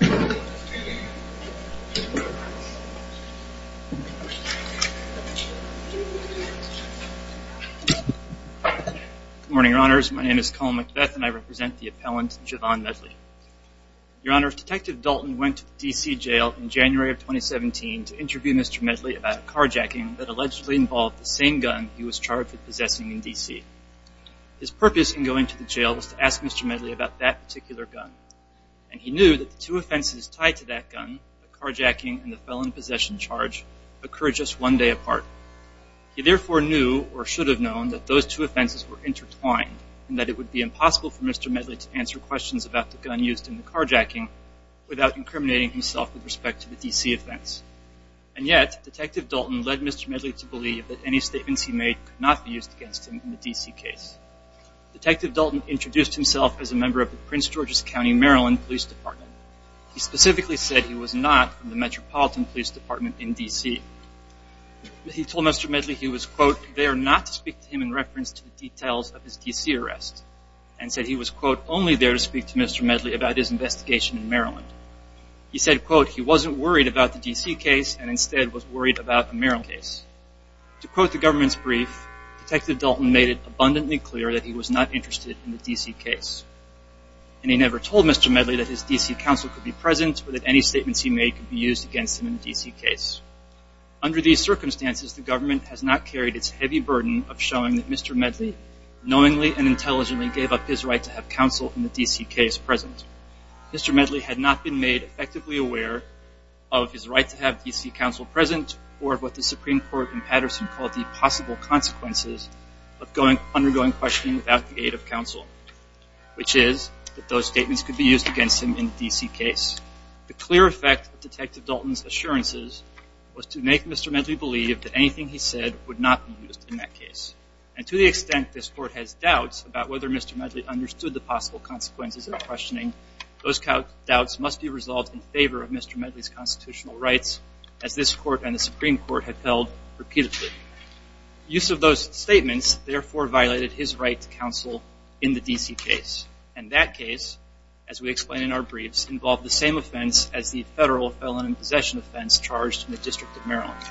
Good morning, your honors. My name is Colin McBeth and I represent the appellant Jovon Medley. Your honors, Detective Dalton went to the D.C. jail in January of 2017 to interview Mr. Medley about a carjacking that allegedly involved the same gun he was charged with possessing in D.C. His purpose in going to the jail was to ask Mr. Medley about that particular gun and he knew that the two offenses tied to that gun, the carjacking and the felon possession charge, occurred just one day apart. He therefore knew or should have known that those two offenses were intertwined and that it would be impossible for Mr. Medley to answer questions about the gun used in the carjacking without incriminating himself with respect to the D.C. offense. And yet, Detective Dalton led Mr. Medley to believe that any statements he made could not be used against him in the D.C. case. Detective Dalton introduced himself as a member of the Prince George's County, Maryland Police Department. He specifically said he was not from the Metropolitan Police Department in D.C. He told Mr. Medley he was quote, there not to speak to him in reference to the details of his D.C. arrest and said he was quote, only there to speak to Mr. Medley about his investigation in Maryland. He said quote, he wasn't worried about the D.C. case and instead was worried about the Maryland case. To quote the government's brief, Detective Dalton made it abundantly clear that he was not interested in the D.C. case. And he never told Mr. Medley that his D.C. counsel could be present or that any statements he made could be used against him in the D.C. case. Under these circumstances, the government has not carried its heavy burden of showing that Mr. Medley knowingly and intelligently gave up his right to have counsel in the D.C. case present. Mr. Medley had not been made effectively aware of his right to have D.C. counsel present or of what the Supreme Court in Patterson called the possible consequences of undergoing questioning without the aid of counsel, which is that those statements could be used against him in the D.C. case. The clear effect of Detective Dalton's assurances was to make Mr. Medley believe that anything he said would not be used in that case. And to the extent this Court has doubts about whether Mr. Medley understood the possible consequences of questioning, those doubts must be resolved in favor of Mr. Medley's constitutional rights as this Court and the Supreme Court have held repeatedly. Use of those statements, therefore, violated his right to counsel in the D.C. case. And that case, as we explain in our briefs, involved the same offense as the federal felon in possession offense charged in the District of Maryland.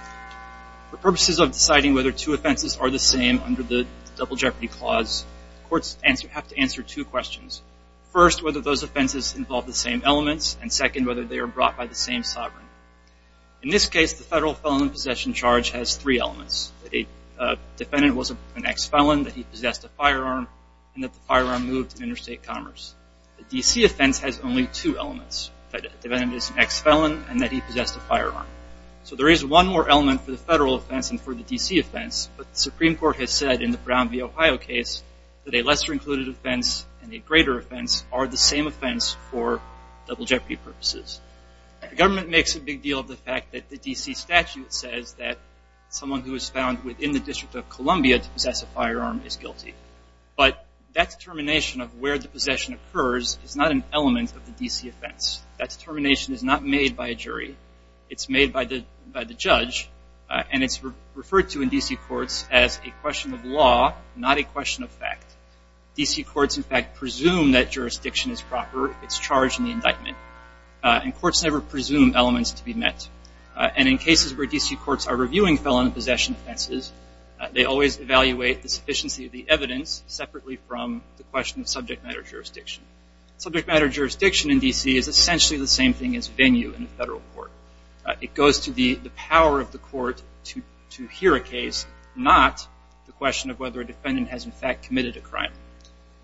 For purposes of deciding whether two offenses are the same under the Double Jeopardy Clause, courts have to answer two questions. First, whether those offenses involve the same elements, and second, whether they are brought by the same sovereign. In this case, the federal felon in possession charge has three elements. That a defendant was an ex-felon, that he possessed a firearm, and that the firearm moved to interstate commerce. The D.C. offense has only two elements, that the defendant is an ex-felon and that he possessed a firearm. So there is one more element for the federal offense and for the D.C. offense, but the Supreme Court has said in the Brown v. Ohio case that a lesser included offense and a greater offense are the same offense for Double Jeopardy. The government makes a big deal of the fact that the D.C. statute says that someone who was found within the District of Columbia to possess a firearm is guilty. But that determination of where the possession occurs is not an element of the D.C. offense. That determination is not made by a jury. It's made by the judge, and it's referred to in D.C. courts as a question of law, not a question of fact. D.C. courts in fact presume that jurisdiction is proper if it's charged in the indictment, and courts never presume elements to be met. And in cases where D.C. courts are reviewing felon possession offenses, they always evaluate the sufficiency of the evidence separately from the question of subject matter jurisdiction. Subject matter jurisdiction in D.C. is essentially the same thing as venue in a federal court. It goes to the power of the court to hear a case, not the question of whether a defendant has in fact committed a crime.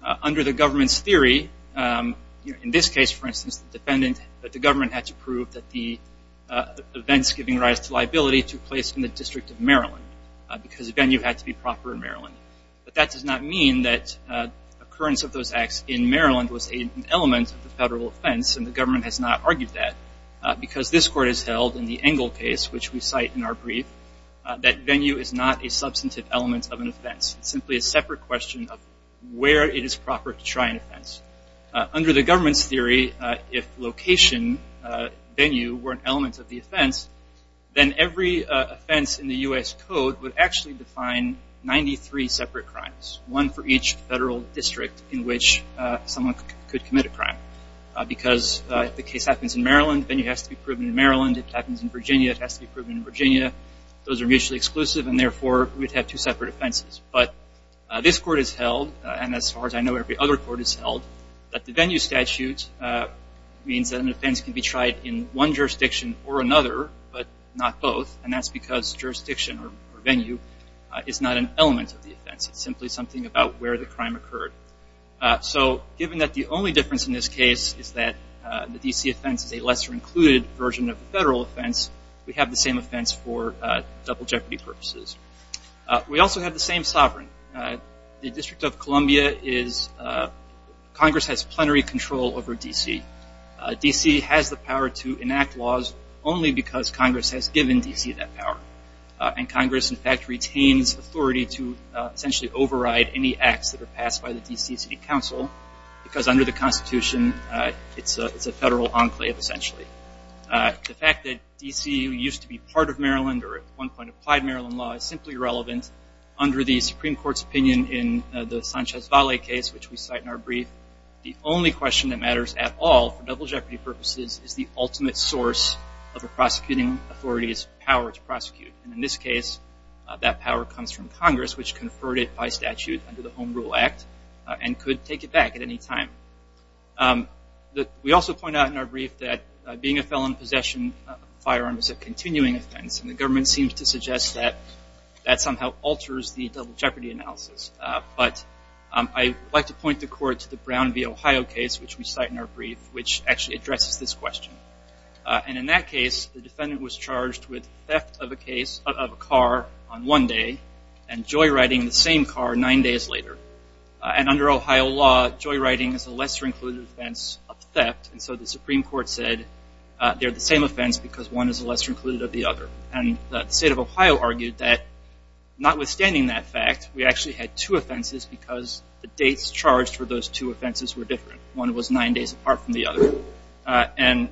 Under the government's theory, in this case, for instance, the defendant, the government had to prove that the events giving rise to liability took place in the District of Maryland, because the venue had to be proper in Maryland. But that does not mean that occurrence of those acts in Maryland was an element of the federal offense, and the government has not argued that, because this court has held in the Engle case, which we cite in our brief, that venue is not a substantive element of an offense. It's simply a separate question of where it is proper to try an offense. Under the government's theory, if location, venue, were an element of the offense, then every offense in the U.S. Code would actually define 93 separate crimes, one for each federal district in which someone could commit a crime, because if the case happens in Maryland, venue has to be proven in Maryland. If it happens in Virginia, it has to be proven in Virginia. Those are mutually exclusive, and therefore, we'd have two separate offenses. But this court has held, and as far as I know, every other court has held, that the venue statute means that an offense can be tried in one jurisdiction or another, but not both, and that's because jurisdiction or venue is not an element of the offense. It's simply something about where the crime occurred. So given that the only difference in this case is that the same offense for double jeopardy purposes. We also have the same sovereign. The District of Columbia is, Congress has plenary control over D.C. D.C. has the power to enact laws only because Congress has given D.C. that power, and Congress, in fact, retains authority to essentially override any acts that are passed by the D.C. City Council, because under the Constitution, it's a federal enclave, essentially. The fact that D.C. used to be part of Maryland, or at one point applied Maryland law, is simply irrelevant. Under the Supreme Court's opinion in the Sanchez-Valle case, which we cite in our brief, the only question that matters at all for double jeopardy purposes is the ultimate source of a prosecuting authority's power to prosecute, and in this case, that power comes from Congress, which conferred it by statute under the Home Rule Act, and could take it back at any time. We also point out in our brief that being a felon in possession of a firearm is a continuing offense, and the government seems to suggest that that somehow alters the double jeopardy analysis. But I'd like to point the court to the Brown v. Ohio case, which we cite in our brief, which actually addresses this question. And in that case, the defendant was charged with theft of a car on one day, and joyriding the same car nine days later. And under Ohio law, joyriding is a lesser-included offense of theft, and so the Supreme Court said they're the same offense because one is a lesser-included of the other. And the state of Ohio argued that notwithstanding that fact, we actually had two offenses because the dates charged for those two offenses were different. One was nine days apart from the other. And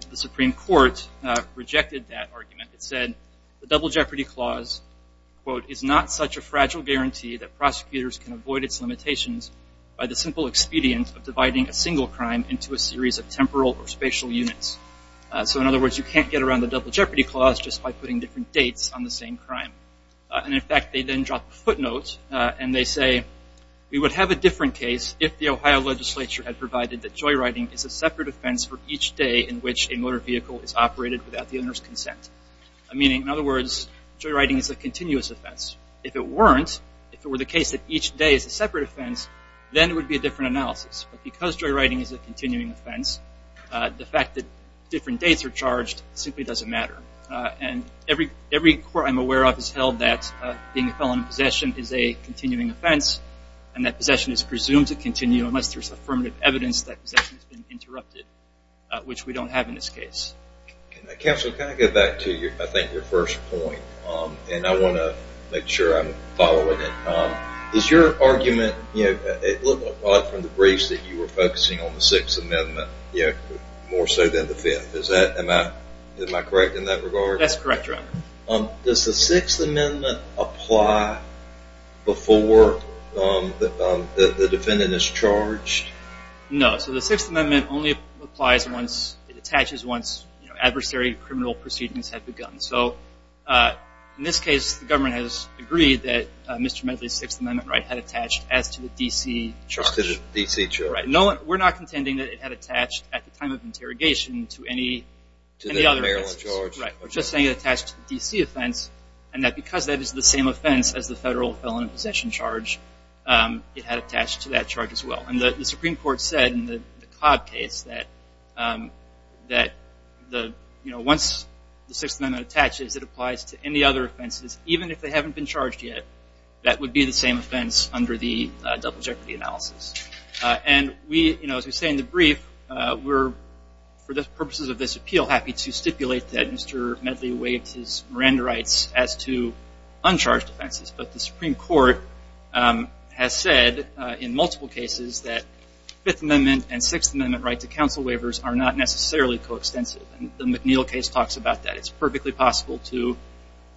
the double jeopardy clause, quote, is not such a fragile guarantee that prosecutors can avoid its limitations by the simple expedient of dividing a single crime into a series of temporal or spatial units. So in other words, you can't get around the double jeopardy clause just by putting different dates on the same crime. And in fact, they then drop a footnote, and they say, we would have a different case if the Ohio legislature had provided that joyriding is a separate offense for each day in which a motor vehicle is operated without the owner's consent. Meaning, in other words, joyriding is a continuous offense. If it weren't, if it were the case that each day is a separate offense, then it would be a different analysis. But because joyriding is a continuing offense, the fact that different dates are charged simply doesn't matter. And every court I'm aware of has held that being a felon in possession is a continuing offense, and that possession is presumed to continue unless there's affirmative evidence that possession has been interrupted, which we don't have in this case. Counsel, can I go back to, I think, your first point? And I want to make sure I'm following it. Is your argument, you know, it looked like from the briefs that you were focusing on the Sixth Amendment, you know, more so than the Fifth. Is that, am I, am I correct in that regard? That's correct, Your Honor. Does the Sixth Amendment apply before the defendant is charged? No. So the Sixth Amendment only applies once, it attaches once, you know, adversary criminal proceedings have begun. So in this case, the government has agreed that Mr. Medley's Sixth Amendment right had attached as to the D.C. charge. As to the D.C. charge. Right. No, we're not contending that it had attached at the time of interrogation to any other offense. To the Maryland charge. Right. We're just saying it attached to the D.C. offense, and that because that is the same offense as the federal felon in possession charge, it had attached to that charge as the Supreme Court said in the Cobb case that, that the, you know, once the Sixth Amendment attaches, it applies to any other offenses, even if they haven't been charged yet, that would be the same offense under the double jeopardy analysis. And we, you know, as we say in the brief, we're, for the purposes of this appeal, happy to stipulate that Mr. Medley waived his Miranda rights as to uncharged offenses. But the Supreme Court has said in multiple cases that Fifth Amendment and Sixth Amendment right to counsel waivers are not necessarily co-extensive, and the McNeil case talks about that. It's perfectly possible to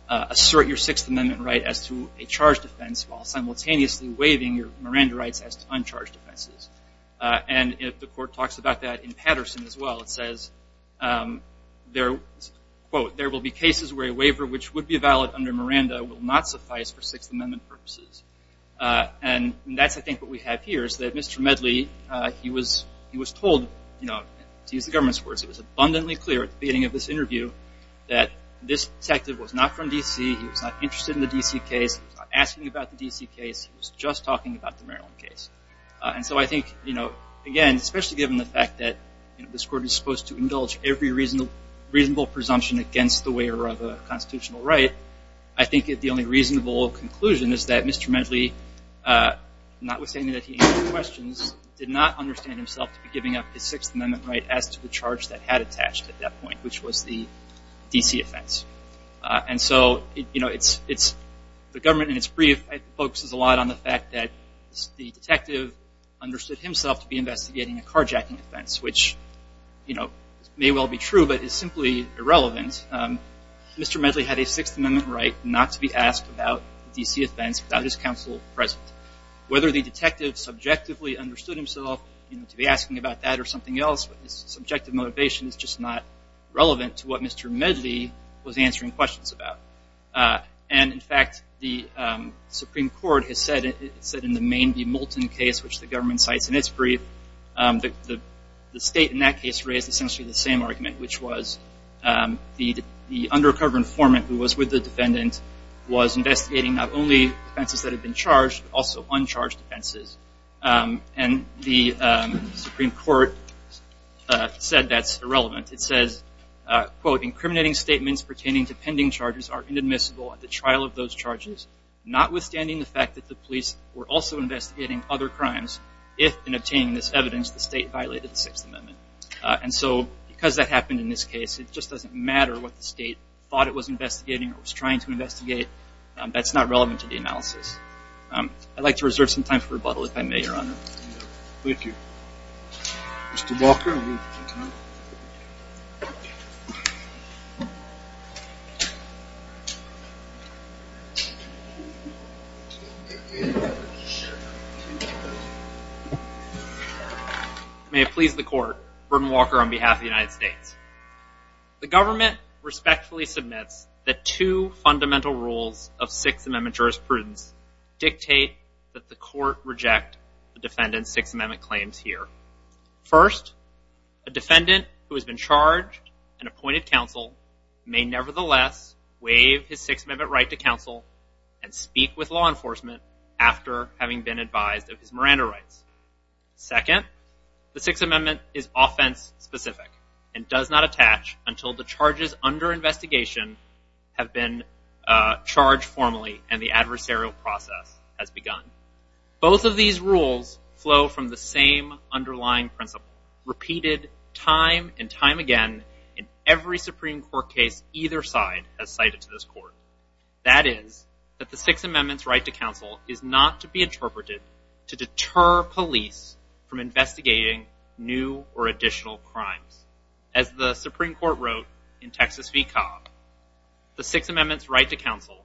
assert your Sixth Amendment right as to a charged offense while simultaneously waiving your Miranda rights as to uncharged offenses. And if the court talks about that in Patterson as well, it says, quote, there will be cases where a waiver which would be valid under Miranda will not suffice for Sixth Amendment purposes. And that's, I think, what we have here is that Mr. Medley, he was told, you know, to use the government's words, it was abundantly clear at the beginning of this interview that this detective was not from D.C., he was not interested in the D.C. case, he was not asking about the D.C. case, he was just talking about the Maryland case. And so I think, you know, again, especially given the fact that this court is supposed to indulge every reasonable presumption against the waiver of a constitutional right, I think that the only reasonable conclusion is that Mr. Medley, notwithstanding that he asked questions, did not understand himself to be giving up his Sixth Amendment right as to the charge that had attached at that point, which was the D.C. offense. And so, you know, the government in its brief focuses a lot on the fact that the detective understood himself to be investigating a carjacking offense, which, you know, may well be true, but is simply irrelevant. Mr. Medley had a Sixth Amendment right not to be asked about the D.C. offense without his counsel present. Whether the detective subjectively understood himself, you know, to be asking about that or something else, his subjective motivation is just not relevant to what Mr. Medley was answering questions about. And in fact, the Supreme Court has said in the Maine v. Moulton case, which the government cites in its brief, that the state in that case raised essentially the same argument, which was the undercover informant who was with the defendant was investigating not only offenses that had been charged, but also uncharged offenses. And the Supreme Court said that's irrelevant. It says, quote, incriminating statements pertaining to pending charges are inadmissible at the trial of those charges, notwithstanding the fact that the police were also investigating other crimes, if in obtaining this evidence the state violated the Sixth Amendment. And so, because that happened in this case, it just doesn't matter what the state thought it was investigating or was trying to investigate. That's not relevant to the analysis. I'd like to reserve some time for rebuttal, if I may, Your Honor. Thank you. Mr. Walker. May it please the court, Brendan Walker on behalf of the United States. The government respectfully submits that two fundamental rules of Sixth Amendment jurisprudence dictate that the court reject the defendant's Sixth Amendment claims here. First, a defendant who has been charged and appointed counsel may nevertheless waive his Sixth Amendment right to counsel and speak with law enforcement after having been advised of his Miranda rights. Second, the Sixth Amendment is offense-specific and does not attach until the charges under investigation have been charged formally and the adversarial process has begun. Both of these rules apply time and time again in every Supreme Court case either side has cited to this court. That is, that the Sixth Amendment's right to counsel is not to be interpreted to deter police from investigating new or additional crimes. As the Supreme Court wrote in Texas v. Cobb, the Sixth Amendment's right to counsel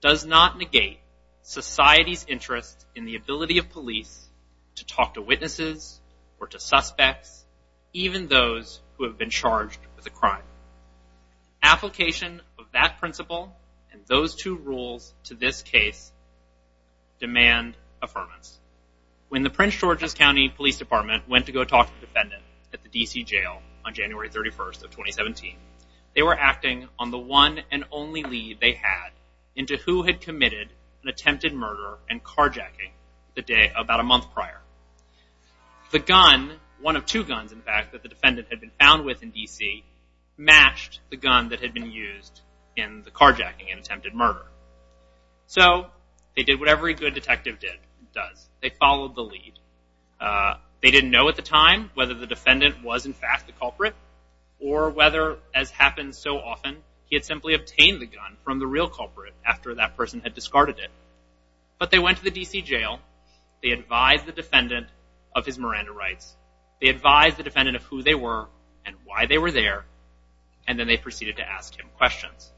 does not negate society's interest in the ability of police to talk to witnesses or to suspects, even those who have been charged with a crime. Application of that principle and those two rules to this case demand affirmance. When the Prince George's County Police Department went to go talk to the defendant at the D.C. jail on January 31st of 2017, they were acting on the one and only lead they had into who had committed an attempted murder and carjacking the day about a month prior. The gun, one of two guns, in fact, that the defendant had been found with in D.C. matched the gun that had been used in the carjacking and attempted murder. So they did what every good detective did, does. They followed the lead. They didn't know at the time whether the defendant was in fact the culprit or whether, as happens so often, he had simply obtained the gun from the real culprit after that person had discarded it. But they went to the D.C. jail. They advised the defendant of his Miranda rights. They advised the defendant of who they were and why they were there. And then they proceeded to ask him questions.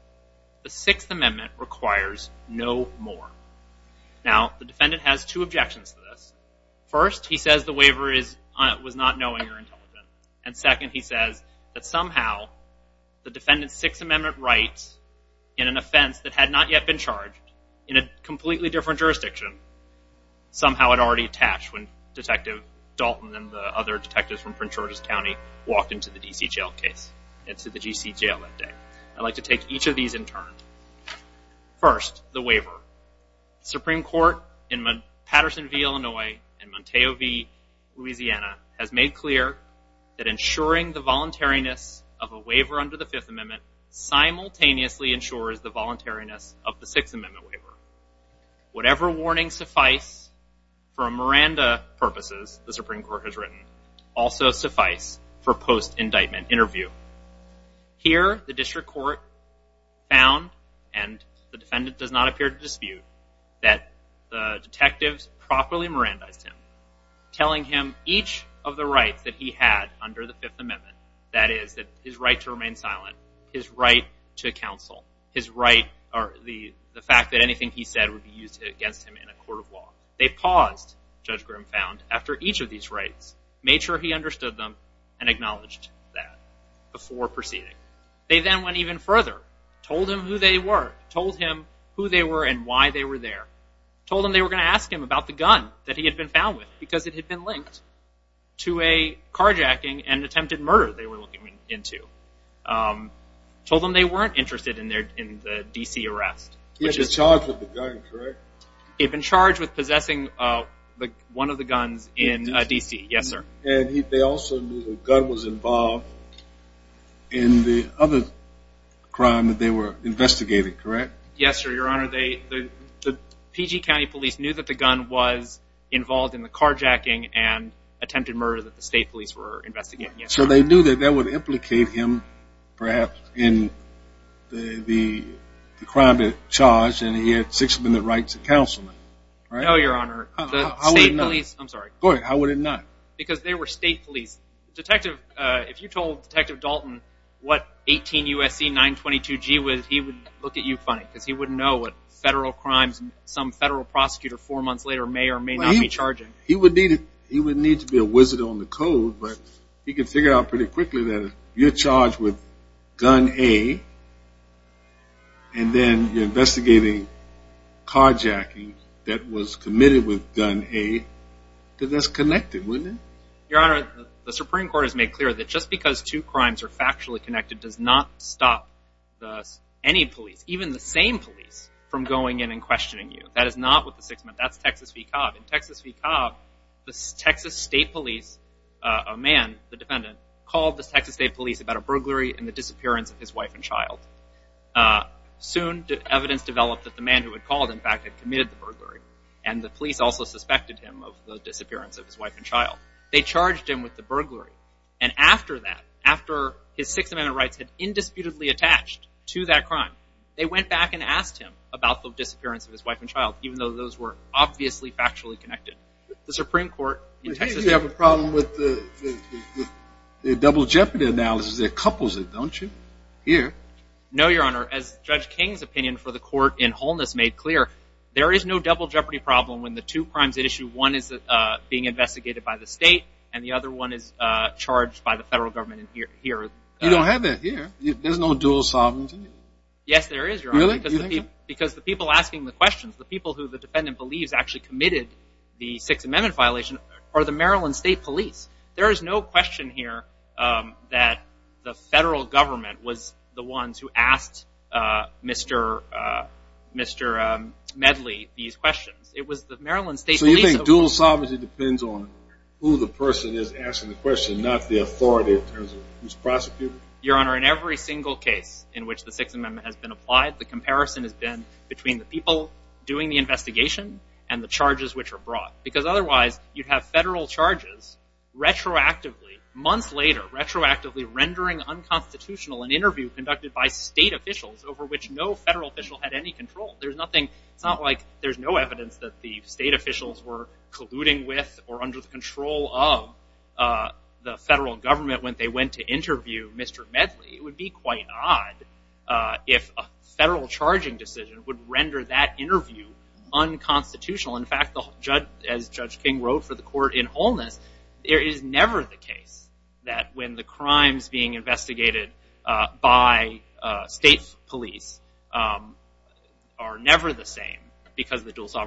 The Sixth Amendment requires no more. Now, the defendant has two objections to this. First, he says the waiver is, was not knowing or intelligent. And second, he says that somehow the defendant's Sixth Amendment defense that had not yet been charged in a completely different jurisdiction somehow had already attached when Detective Dalton and the other detectives from Prince George's County walked into the D.C. jail case, into the D.C. jail that day. I'd like to take each of these in turn. First, the waiver. The Supreme Court in Paterson v. Illinois and Monteo v. Louisiana has made clear that ensuring the voluntariness of a waiver under the Fifth Amendment simultaneously ensures the voluntariness of the Sixth Amendment waiver. Whatever warnings suffice for Miranda purposes, the Supreme Court has written, also suffice for post-indictment interview. Here, the District Court found, and the defendant does not appear to dispute, that the detectives properly Mirandized him, telling him each of the rights that he had under the Fifth Amendment. That is, that his right to remain silent, his right to counsel, his right, or the fact that anything he said would be used against him in a court of law. They paused, Judge Grimm found, after each of these rights, made sure he understood them and acknowledged that before proceeding. They then went even further, told him who they were, told him who they were and why they were there, told him they were going to ask him about the gun that he had been found with because it had been linked to a carjacking and attempted murder they were looking into, told them they weren't interested in the D.C. arrest. He had been charged with the gun, correct? He had been charged with possessing one of the guns in D.C., yes sir. And they also knew the gun was involved in the other crime that they were investigating, correct? Yes sir, your honor, the PG County Police knew that the gun was involved in the carjacking and attempted murder that the state police were investigating. So they knew that that would implicate him, perhaps, in the crime that he was charged and he had Sixth Amendment rights to counsel. No, your honor, the state police, I'm sorry. How would it not? Because they were state police. Detective, if you told Detective Dalton what 18 U.S.C. 922-G was, he would look at you funny because he four months later may or may not be charging. He would need to be a wizard on the code but he could figure out pretty quickly that you're charged with gun A and then you're investigating carjacking that was committed with gun A because that's connected, wasn't it? Your honor, the Supreme Court has made clear that just because two crimes are factually connected does not stop any police, even the same police, from going in and questioning you. That is not what the Sixth Amendment, that's Texas v. Cobb. In Texas v. Cobb, the Texas State Police, a man, the defendant, called the Texas State Police about a burglary and the disappearance of his wife and child. Soon, evidence developed that the man who had called, in fact, had committed the burglary and the police also suspected him of the disappearance of his wife and child. They charged him with the burglary and after that, after his Sixth Amendment rights had indisputably attached to that crime, they went back and asked him about the disappearance of his wife and child, even though those were obviously factually connected. The Supreme Court in Texas... Hey, you have a problem with the double jeopardy analysis that couples it, don't you? Here. No, your honor. As Judge King's opinion for the court in wholeness made clear, there is no double jeopardy problem when the two crimes at issue, one is being investigated by the state and the other one is charged by the federal government here. You don't have that here. There's no dual sovereignty. Yes, there is, your honor. Really? Because the people asking the questions, the people who the defendant believes actually committed the Sixth Amendment violation are the Maryland State Police. There is no question here that the federal government was the ones who asked Mr. Medley these questions. It was the Maryland State Police... So you think dual sovereignty depends on who the person is asking the question, not the authority in terms of who's prosecuting? Your honor, in every single case in which the Sixth Amendment has been applied, the comparison has been between the people doing the investigation and the charges which are brought. Because otherwise, you'd have federal charges retroactively, months later, retroactively rendering unconstitutional an interview conducted by state officials over which no federal official had any control. There's nothing, it's not like there's no evidence that the state officials were colluding with or under the control of the federal government when they went to interview Mr. Medley. It would be quite odd if a federal charging decision would render that interview unconstitutional. In fact, as Judge King wrote for the court in wholeness, there is never the case that when the crimes being investigated by state police are never the same because of the dual control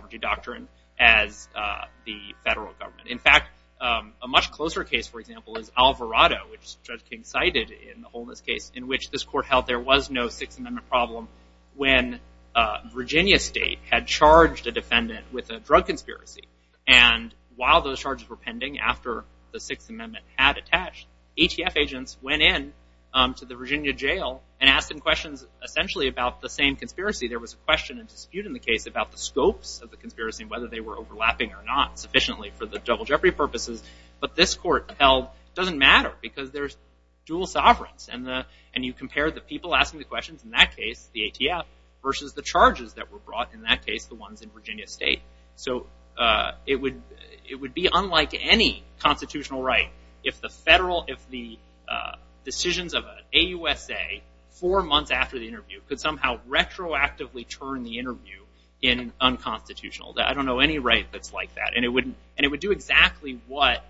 of the federal government. In fact, a much closer case, for example, is Alvarado, which Judge King cited in the wholeness case in which this court held there was no Sixth Amendment problem when Virginia State had charged a defendant with a drug conspiracy. And while those charges were pending after the Sixth Amendment had attached, ATF agents went in to the Virginia jail and asked them questions essentially about the same conspiracy. There was a question and dispute in the case about the scopes of the conspiracy and whether they were overlapping or not sufficiently for the double jeopardy purposes. But this court held it doesn't matter because there's dual sovereigns. And you compare the people asking the questions in that case, the ATF, versus the charges that were brought in that case, the ones in Virginia State. So it would be unlike any constitutional right if the federal, if the decisions of an AUSA four months after the interview could somehow retroactively turn the interview in unconstitutional. I don't know any right that's like that. And it would do exactly what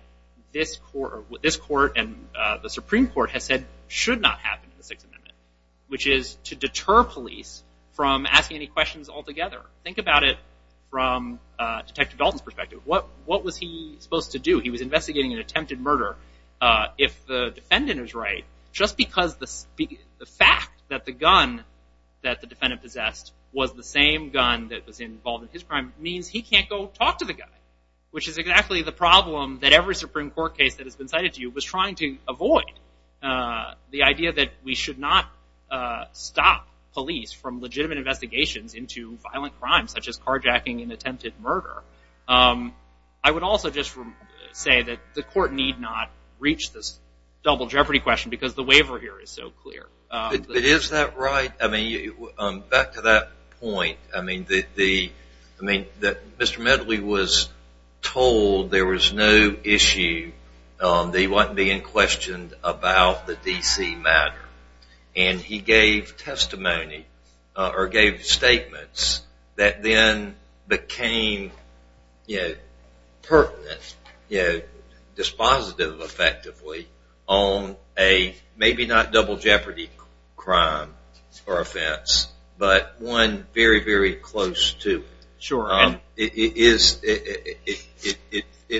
this court and the Supreme Court has said should not happen in the Sixth Amendment, which is to deter police from asking any questions altogether. Think about it from Detective Dalton's perspective. What was he supposed to do? He was investigating an attempted murder. If the defendant is right, just because the fact that the gun that the defendant possessed was the same gun that was involved in his crime means he can't go talk to the guy, which is exactly the problem that every Supreme Court case that has been cited to you was trying to avoid. The idea that we should not stop police from legitimate investigations into violent crimes such as carjacking and attempted murder. I would also just say that the court need not reach this double jeopardy question because the waiver here is so clear. But is that right? I mean, back to that point, I mean, that Mr. Medley was told there was no issue, that he wasn't being questioned about the D.C. matter. And he gave testimony or gave statements that then became, you know, pertinent, you know, dispositive effectively on a maybe not double jeopardy crime or offense, but one very, very close to. It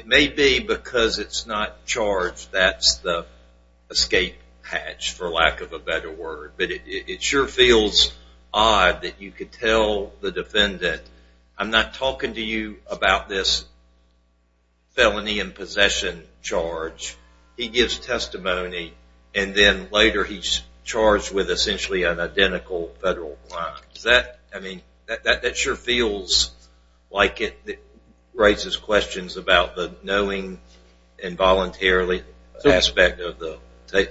may be because it's not charged, that's the escape hatch, for lack of a better word. But it sure feels odd that you could tell the defendant, I'm not talking to you about this felony and possession charge, he gives testimony and then later he's charged with essentially an identical federal crime. Does that, I mean, that sure feels like it raises questions about the knowing and voluntarily aspect of the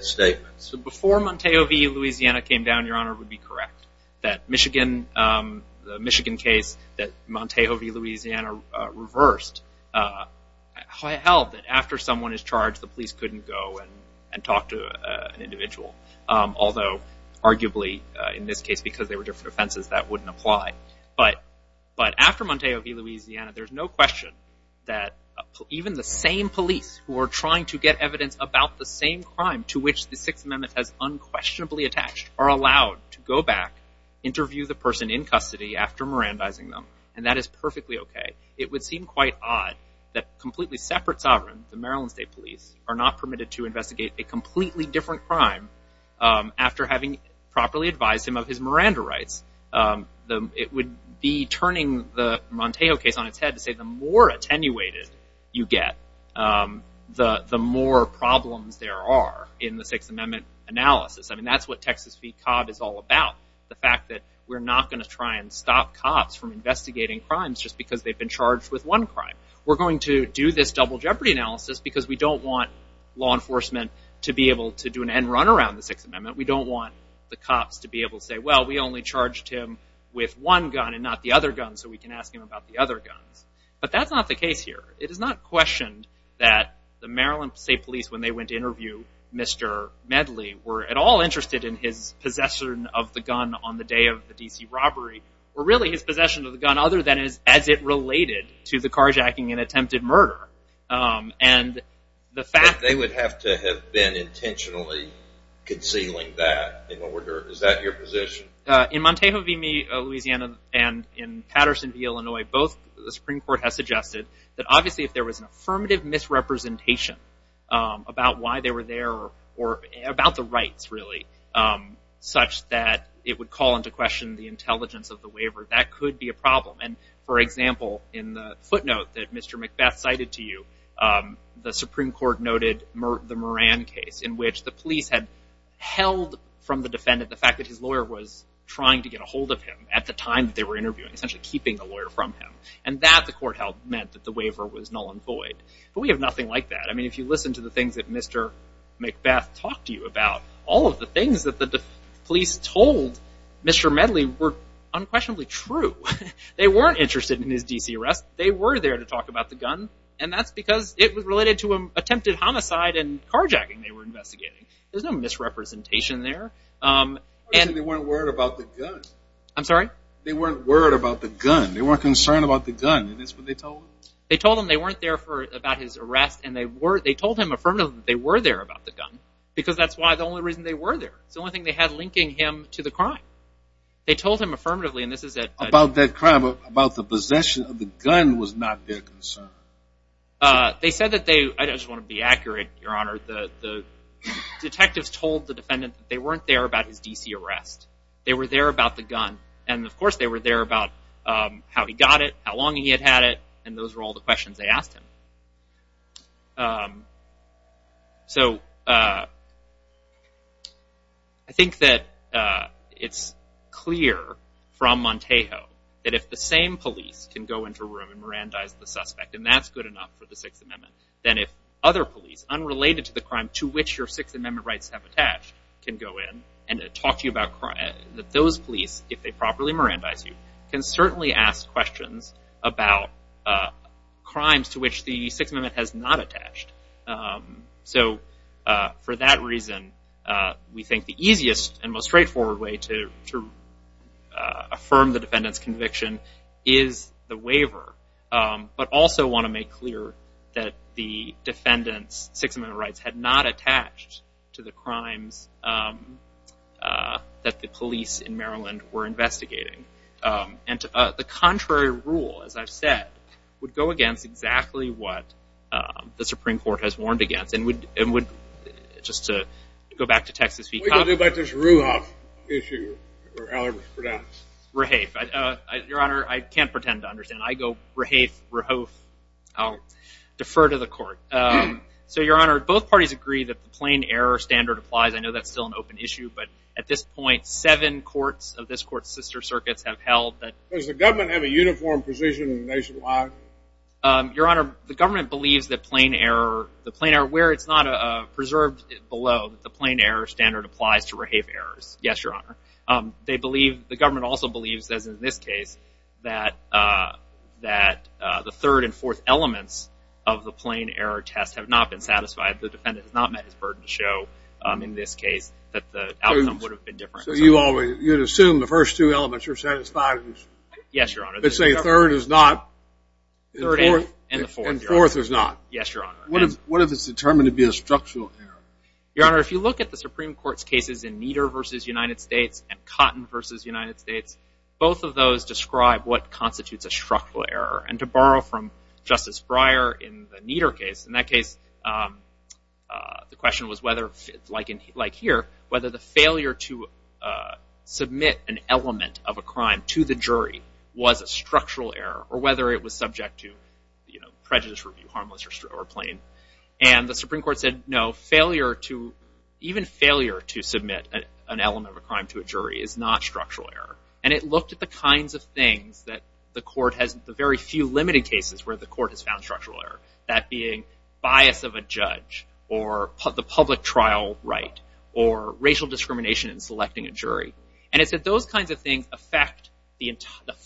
statements. So before Montejovi, Louisiana came down, Your Honor, it would be correct that Michigan, the Michigan case that Montejovi, Louisiana reversed, held that after someone is charged, the police couldn't go and talk to an individual. Although arguably, in this case, because they were different offenses, that wouldn't apply. But after Montejovi, Louisiana, there's no question that even the same police who are trying to get evidence about the same crime to which the Sixth Amendment has unquestionably attached are allowed to go back, interview the person in custody after mirandizing them. And that is perfectly okay. It would seem quite odd that completely separate sovereigns, the Maryland State Police, are not permitted to investigate a completely different crime after having properly advised him of his Miranda rights. It would be turning the Montejo case on its head to say the more attenuated you get, the more problems there are in the Sixth Amendment analysis. I mean, that's what Texas v. Cobb is all about. The fact that we're not going to try and stop cops from investigating crimes just because they've been charged with one crime. We're going to do this double jeopardy analysis because we don't want law enforcement to be able to do an end run around the Sixth Amendment. We don't want the cops to be able to say, well, we only charged him with one gun and not the other gun, so we can ask him about the other guns. But that's not the case here. It is not questioned that the Maryland State Police, when they went to interview Mr. Medley, were at all interested in his way of the D.C. robbery, or really his possession of the gun, other than as it related to the carjacking and attempted murder. And the fact that they would have to have been intentionally concealing that in order, is that your position? In Montejo v. Meade, Louisiana, and in Patterson v. Illinois, both the Supreme Court has suggested that obviously if there was an affirmative misrepresentation about why they were there or about the rights, really, such that it would call into question the intelligence of the waiver, that could be a problem. And for example, in the footnote that Mr. McBeth cited to you, the Supreme Court noted the Moran case, in which the police had held from the defendant the fact that his lawyer was trying to get a hold of him at the time that they were interviewing, essentially keeping the lawyer from him. And that, the court held, meant that the waiver was null and void. But we have nothing like that. I mean, if you listen to the things that Mr. McBeth talked to you about, all of the things that the police told Mr. Medley were unquestionably true. They weren't interested in his D.C. arrest. They were there to talk about the gun. And that's because it was related to an attempted homicide and carjacking they were investigating. There's no misrepresentation there. They weren't worried about the gun. I'm sorry? They weren't worried about the gun. They weren't concerned about the gun. And that's what they told him? They told him they weren't there for, about his arrest. And they were, they told him affirmatively that they were there about the gun. Because that's why, the only reason they were there. It's the only thing they had linking him to the crime. They told him affirmatively, and this is at- About that crime, about the possession of the gun was not their concern. They said that they, I just want to be accurate, Your Honor, the detectives told the defendant that they weren't there about his D.C. arrest. They were there about the gun. And of course they were there about how he got it, how long he had had it, and those were all the questions they asked him. So I think that it's clear from Montejo that if the same police can go into a room and mirandize the suspect, and that's good enough for the Sixth Amendment, then if other police, unrelated to the crime to which your Sixth Amendment rights have attached, can go in and talk to you about crime, that those police, if they properly mirandize you, can certainly ask questions about crimes to which the Sixth Amendment has not attached. So for that reason, we think the easiest and most straightforward way to affirm the defendant's conviction is the waiver, but also want to make clear that the defendant's Sixth Amendment rights had not attached to the crimes that the police in Maryland were investigating. And the contrary rule, as I've said, would go against exactly what the Supreme Court has warned against, and would, just to go back to Texas v. Congress. What do you do about this Ruhoff issue? Rehafe. Your Honor, I can't pretend to understand. I go Rehafe, Ruhoff. I'll defer to the Court. So Your Honor, both parties agree that the plain error standard applies. I know that's still an open issue, but at this point, seven courts of this Court's sister circuits have held that... Does the government have a uniform position nationwide? Your Honor, the government believes that plain error, where it's not preserved below, the plain error standard applies to Rehafe errors. Yes, Your Honor. They believe, the government also believes, as in this case, that the third and fourth elements of the plain error test have not been satisfied. The defendant has met his burden to show, in this case, that the outcome would have been different. So you assume the first two elements are satisfied? Yes, Your Honor. But say third is not, and fourth is not? Yes, Your Honor. What if it's determined to be a structural error? Your Honor, if you look at the Supreme Court's cases in Kneader v. United States and Cotton v. United States, both of those describe what constitutes a structural error. And to borrow from Justice Breyer in the Kneader case, in that case, the question was whether, like here, whether the failure to submit an element of a crime to the jury was a structural error, or whether it was subject to prejudice review, harmless or plain. And the Supreme Court said, no, failure to, even failure to submit an element of a crime to a jury is not structural error. And it looked at the kinds of things that the Court has, the very few limited cases where the Court has found structural error, that being bias of a judge, or the public trial right, or racial discrimination in selecting a jury. And it said those kinds of things affect the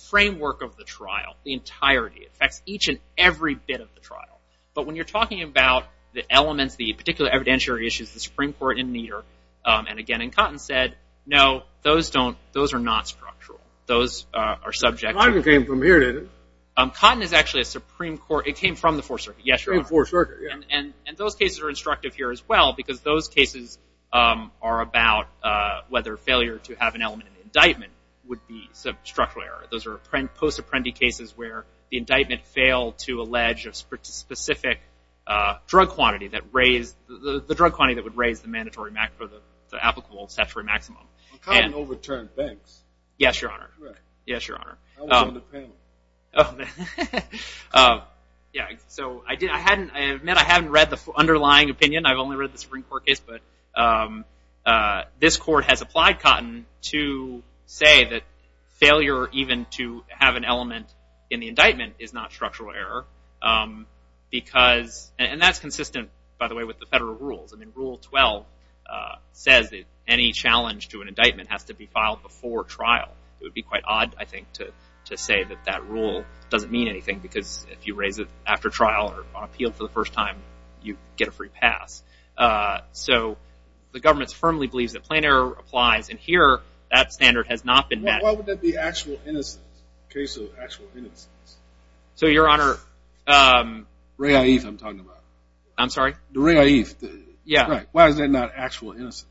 framework of the trial, the entirety. It affects each and every bit of the trial. But when you're talking about the elements, the particular evidentiary issues, the Supreme Court in Kneader, and again in Cotton, said, no, those don't, those are not structural. Those are subject to- And I didn't came from here, did I? Cotton is actually a Supreme Court, it came from the Fourth Circuit, yes, Your Honor. It came from the Fourth Circuit, yeah. And those cases are instructive here as well, because those cases are about whether failure to have an element of an indictment would be a structural error. Those are post-apprendee cases where the indictment failed to allege a specific drug quantity that raised, the drug quantity that would raise the mandatory maximum, the applicable statutory maximum. Well, Cotton overturned Banks. Yes, Your Honor. Right. Yes, Your Honor. I was on the panel. Yeah, so I admit I haven't read the underlying opinion. I've only read the Supreme Court case. But this court has applied Cotton to say that failure even to have an element in the indictment is not structural error. Because, and that's consistent, by the way, with the federal rules. I mean, Rule 12 says that any challenge to an indictment has to be filed before trial. It would be quite odd, I think, to say that that rule doesn't mean anything, because if you raise it after trial or on appeal for the first time, you get a free pass. So the government firmly believes that plain error applies. And here, that standard has not been met. Well, why would that be actual innocence, the case of actual innocence? So Your Honor, Ray Aeth, I'm talking about. I'm sorry? Ray Aeth. Yeah. Why is that not actual innocence?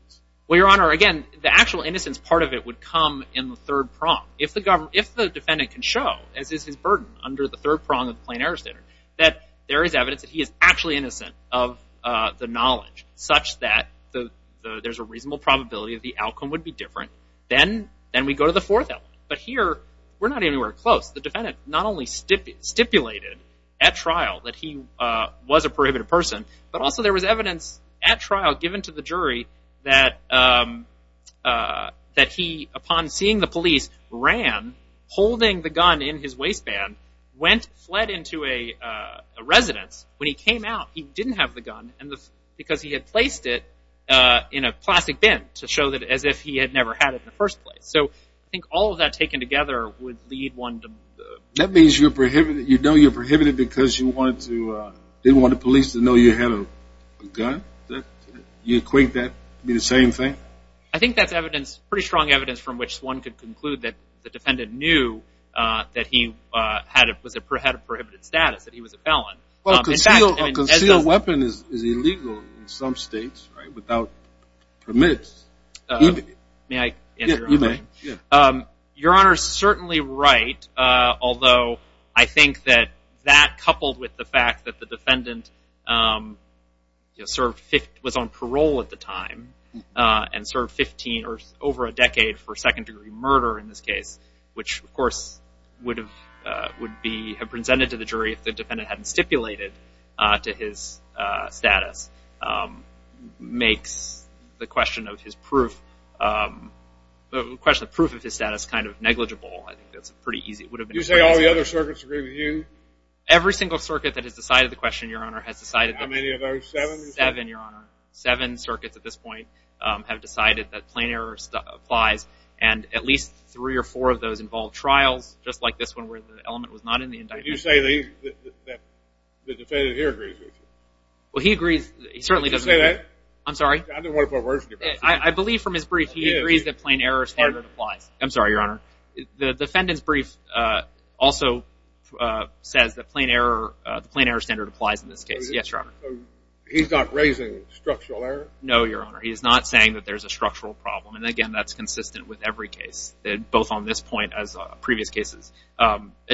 Well, Your Honor, again, the actual innocence part of it would come in the third prong. If the defendant can show, as is his burden under the third prong of the plain error standard, that there is evidence that he is actually innocent of the knowledge, such that there's a reasonable probability that the outcome would be different, then we go to the fourth element. But here, we're not anywhere close. The defendant not only stipulated at trial that he was a prohibited person, but also there was evidence at trial given to the jury that he, upon seeing the police, ran, holding the gun in his waistband, went, fled into a residence. When he came out, he didn't have the gun because he had placed it in a plastic bin to show that as if he had never had it in the first place. So I think all of that taken together would lead one to... That means you're prohibited, you know you're prohibited because you wanted to, didn't want the police to know you had a gun? You equate that to be the same thing? I think that's evidence, pretty strong evidence, from which one could conclude that the defendant knew that he had a prohibited status, that he was a felon. Well, a concealed weapon is illegal in some states, right, without permits, even if... May I answer your own question? Your Honor is certainly right, although I think that that coupled with the fact that the defendant served, was on parole at the time, and served 15 or over a decade for second degree murder in this case, which of course would have been presented to the jury if the defendant hadn't stipulated to his status, makes the question of his proof, the question of proof of his status kind of negligible. I think that's pretty easy, it would have been... You say all the other circuits agree with you? Every single circuit that has decided the question, Your Honor, has decided that... How many of those, seven? Seven, Your Honor. Seven circuits at this point have decided that plain error applies, and at least three or four of those involve trials, just like this one, where the element was not in the indictment. Did you say that the defendant here agrees with you? Well, he agrees, he certainly doesn't... Did you say that? I'm sorry? I didn't want to put words in your mouth. I believe from his brief, he agrees that plain error standard applies. I'm sorry, Your Honor. The defendant's brief also says that the plain error standard applies in this case. Yes, Your Honor. He's not raising structural error? No, Your Honor. He's not saying that there's a structural problem, and again, that's consistent with every case, both on this point as previous cases.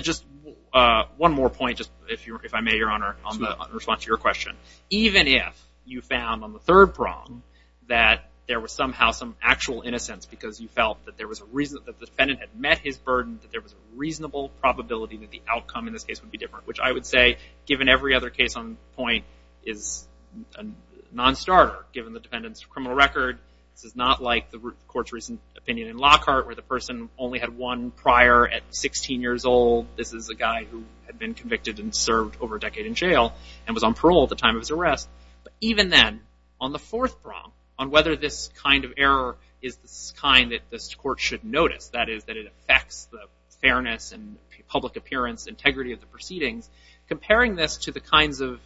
Just one more point, if I may, Your Honor, on the response to your question. Even if you found on the third prong that there was somehow some actual innocence because you felt that the defendant had met his burden, that there was a reasonable probability that the outcome in this case would be different, which I would say, given every other case on the point, is a non-starter, given the defendant's criminal record. This is not like the Court's recent opinion in Lockhart, where the person only had one prior at 16 years old. This is a guy who had been convicted and served over a decade in jail and was on parole at the time of his arrest. But even then, on the fourth prong, on whether this kind of error is the kind that this Court should notice, that is, that it affects the fairness and public appearance, integrity of the proceedings, comparing this to the kinds of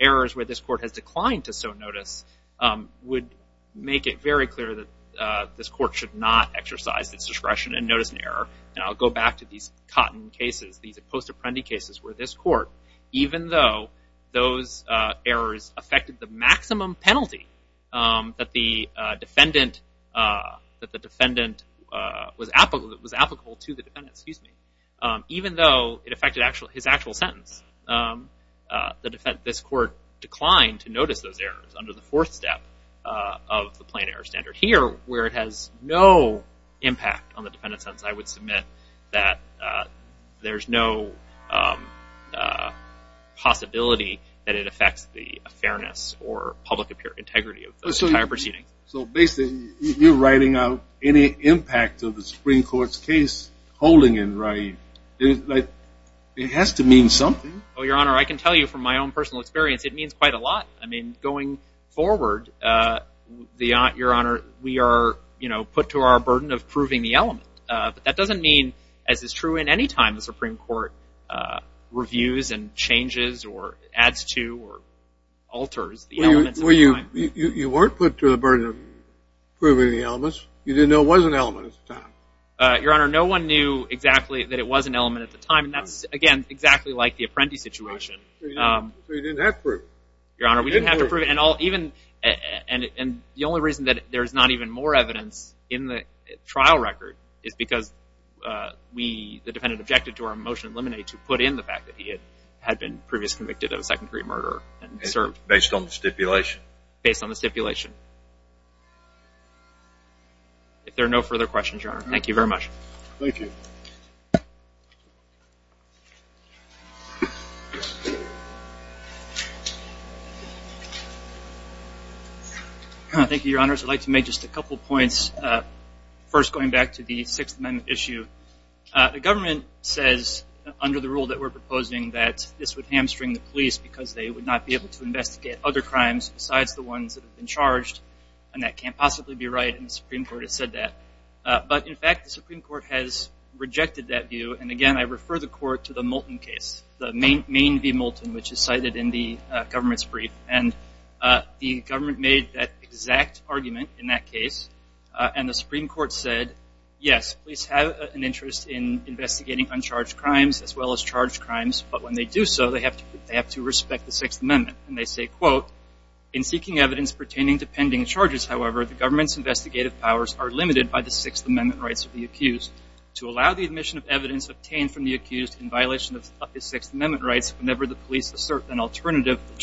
errors where this Court has declined to so notice would make it very clear that this Court should not exercise its discretion and notice an error. And I'll go back to these Cotton cases, these post-apprendi cases, where this Court, even though those errors affected the maximum penalty that the defendant was applicable to the defendant, even though it affected his actual sentence, this Court declined to notice those errors under the fourth step of the plain error standard. Here, where it has no impact on the defendant's sentence, I would submit that there's no possibility that it affects the fairness or public integrity of the entire proceedings. So basically, you're writing out any impact of the Supreme Court's case holding in Rye. It has to mean something. Well, Your Honor, I can tell you from my own personal experience, it means quite a lot. I mean, going forward, Your Honor, we are put to our burden of proving the element. But that doesn't mean, as is true in any time, the Supreme Court reviews and changes or adds to or alters the elements of the time. You weren't put to the burden of proving the elements. You didn't know it was an element at the time. Your Honor, no one knew exactly that it was an element at the time. And that's, again, exactly like the apprentice situation. So you didn't have to prove it. Your Honor, we didn't have to prove it. And the only reason that there's not even more evidence in the trial record is because the defendant objected to our motion in limine to put in the fact that he had been previously convicted of a second-degree murder and served. Based on the stipulation? Based on the stipulation. If there are no further questions, Your Honor, thank you very much. Thank you, Your Honors. I'd like to make just a couple points, first going back to the Sixth Amendment issue. The government says, under the rule that we're proposing, that this would hamstring the police because they would not be able to investigate other crimes besides the ones that have been charged. And that can't possibly be right. And the Supreme Court has said that. But in fact, the Supreme Court has rejected that view. And again, I refer the Court to the Moulton case, the Maine v. Moulton, which is cited in the government's brief. And the government made that exact argument in that case. And the Supreme Court said, yes, police have an interest in investigating uncharged crimes as well as charged crimes. But when they do so, they have to respect the Sixth Amendment. And they say, quote, in seeking evidence pertaining to pending charges, however, the government's investigative powers are limited by the Sixth Amendment rights of the accused. To allow the admission of evidence obtained from the accused in violation of the Sixth Amendment, for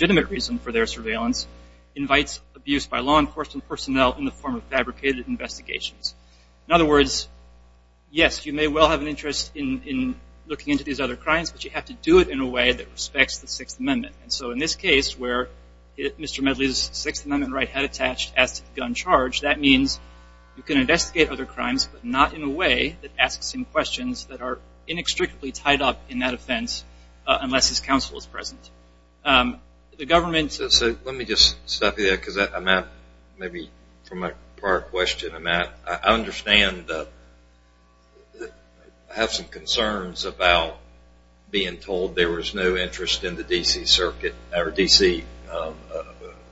that reason, for their surveillance, invites abuse by law enforcement personnel in the form of fabricated investigations. In other words, yes, you may well have an interest in looking into these other crimes. But you have to do it in a way that respects the Sixth Amendment. And so in this case, where Mr. Medley's Sixth Amendment right had attached as to the gun charge, that means you can investigate other crimes, but not in a way that asks him questions that are inextricably tied up in that offense unless his counsel is present. The government's So let me just stop you there, because I'm at, maybe from a prior question, I'm at, I understand, I have some concerns about being told there was no interest in the D.C. Circuit, or D.C.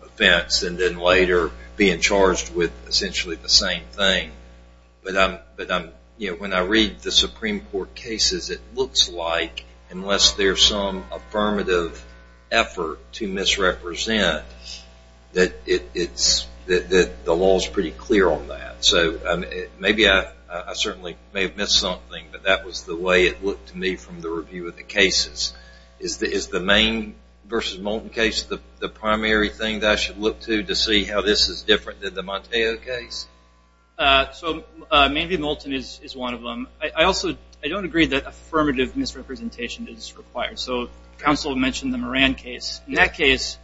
offense, and then later being charged with essentially the same thing. But I'm, you know, when I read the Supreme Court cases, it looks like unless there's some affirmative effort to misrepresent that it's, that the law's pretty clear on that. So maybe I certainly may have missed something, but that was the way it looked to me from the review of the cases. Is the Maine v. Moulton case the primary thing that I should look to to see how this is different than the Monteo case? So Maine v. Moulton is one of them. I also, I don't agree that affirmative misrepresentation is required. So counsel mentioned the Moran case. In that case,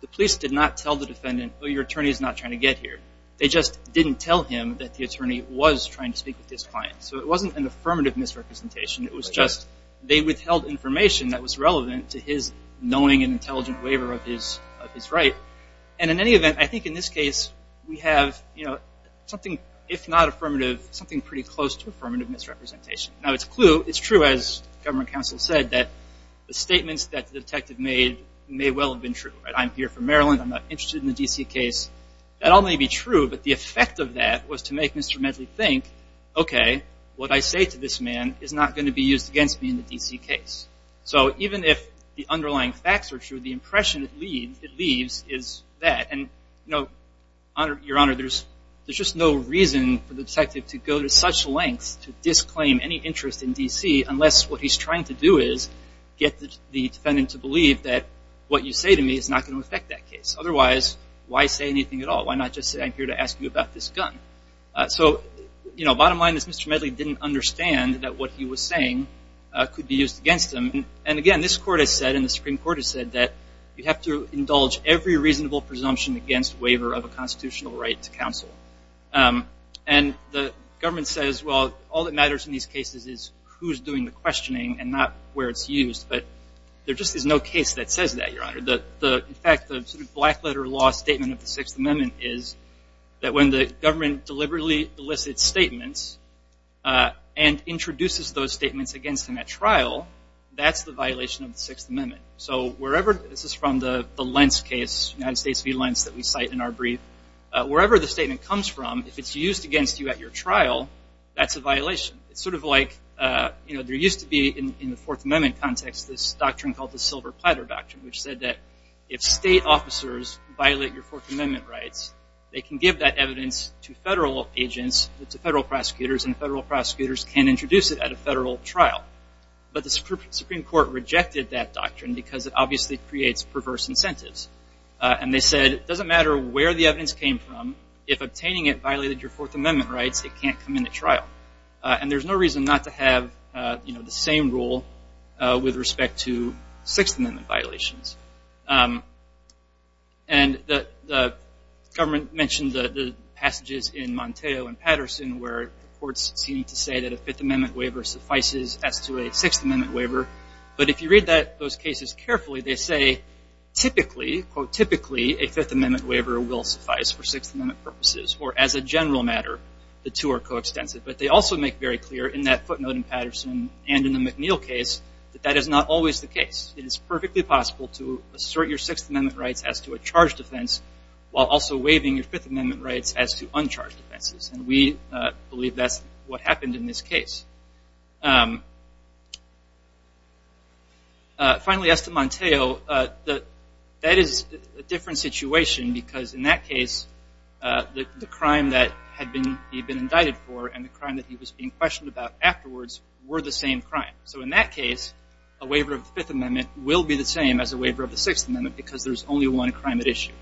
the police did not tell the defendant, oh, your attorney's not trying to get here. They just didn't tell him that the attorney was trying to speak with his client. So it wasn't an affirmative misrepresentation. It was just they withheld information that was relevant to his knowing and intelligent waiver of his right. And in any event, I think in this case we have, you know, something, if not affirmative, something pretty close to affirmative misrepresentation. Now it's true, as government counsel said, that the statements that the detective made may well have been true. Right? I'm here for Maryland. I'm not interested in the D.C. case. That all may be true, but the effect of that was to make Mr. Medley think, okay, what I say to this man is not going to be used against me in the D.C. case. So even if the underlying facts are true, the impression it leaves is that. And, you know, Your Honor, there's just no reason for the detective to go to such lengths to disclaim any interest in D.C. unless what he's trying to do is get the defendant to believe that what you say to me is not going to affect that case. Otherwise, why say anything at all? Why not just say I'm here to ask you about this gun? So bottom line is Mr. Medley didn't understand that what he was saying could be used against him. And again, this court has said and the Supreme Court has said that you have to indulge every reasonable presumption against waiver of a constitutional right to counsel. And the government says, well, all that matters in these cases is who's doing the questioning and not where it's used. But there just is no case that says that, Your Honor. In fact, the sort of black letter law statement of the Sixth Amendment is that when the government deliberately elicits statements and introduces those statements against him at trial, that's the violation of the Sixth Amendment. So wherever this is from the Lentz case, United States v. Lentz that we cite in our brief, wherever the statement comes from, if it's used against you at your trial, that's a violation. It's sort of like there used to be in the Fourth Amendment context this doctrine called the Silver Platter Doctrine, which said that if state officers violate your Fourth Amendment rights, they can give that evidence to federal agents, to federal prosecutors, and federal prosecutors can introduce it at a federal trial. But the Supreme Court rejected that doctrine because it obviously creates perverse incentives. And they said, it doesn't matter where the evidence came from. If obtaining it violated your Fourth Amendment rights, it can't come into trial. And there's no reason not to have the same rule with respect to Sixth Amendment violations. And the government mentioned the passages in Monteo and Patterson where the courts seem to say that a Fifth Amendment waiver suffices as to a Sixth Amendment waiver. But if you read those cases carefully, they say, typically, quote, typically, a Fifth Amendment waiver will suffice for Sixth Amendment purposes, or as a general matter, the two are coextensive. But they also make very clear in that footnote in Patterson and in the McNeil case that that is not always the case. It is perfectly possible to assert your Sixth Amendment rights as to a charged offense while also waiving your Fifth Amendment rights as to uncharged offenses. And we believe that's what happened in this case. Finally, as to Monteo, that is a different situation. Because in that case, the crime that he'd been indicted for and the crime that he was being questioned about afterwards were the same crime. So in that case, a waiver of the Fifth Amendment will be the same as a waiver of the Sixth Amendment because there's only one crime at issue.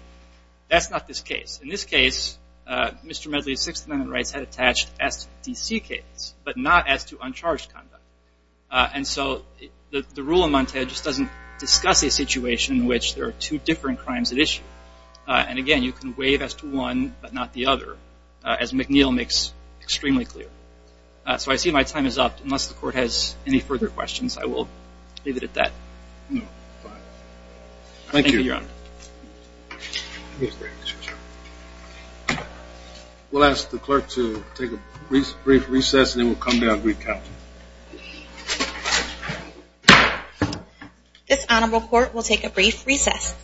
That's not this case. In this case, Mr. Medley's Sixth Amendment rights had attached as to the DC case, but not as to uncharged conduct. And so the rule in Monteo just doesn't discuss a situation in which there are two different crimes at issue. And again, you can waive as to one, but not the other, as McNeil makes extremely clear. So I see my time is up. Unless the Court has any further questions, I will leave it at that. Thank you, Your Honor. We'll ask the clerk to take a brief recess, and then we'll come back and recount. This Honorable Court will take a brief recess.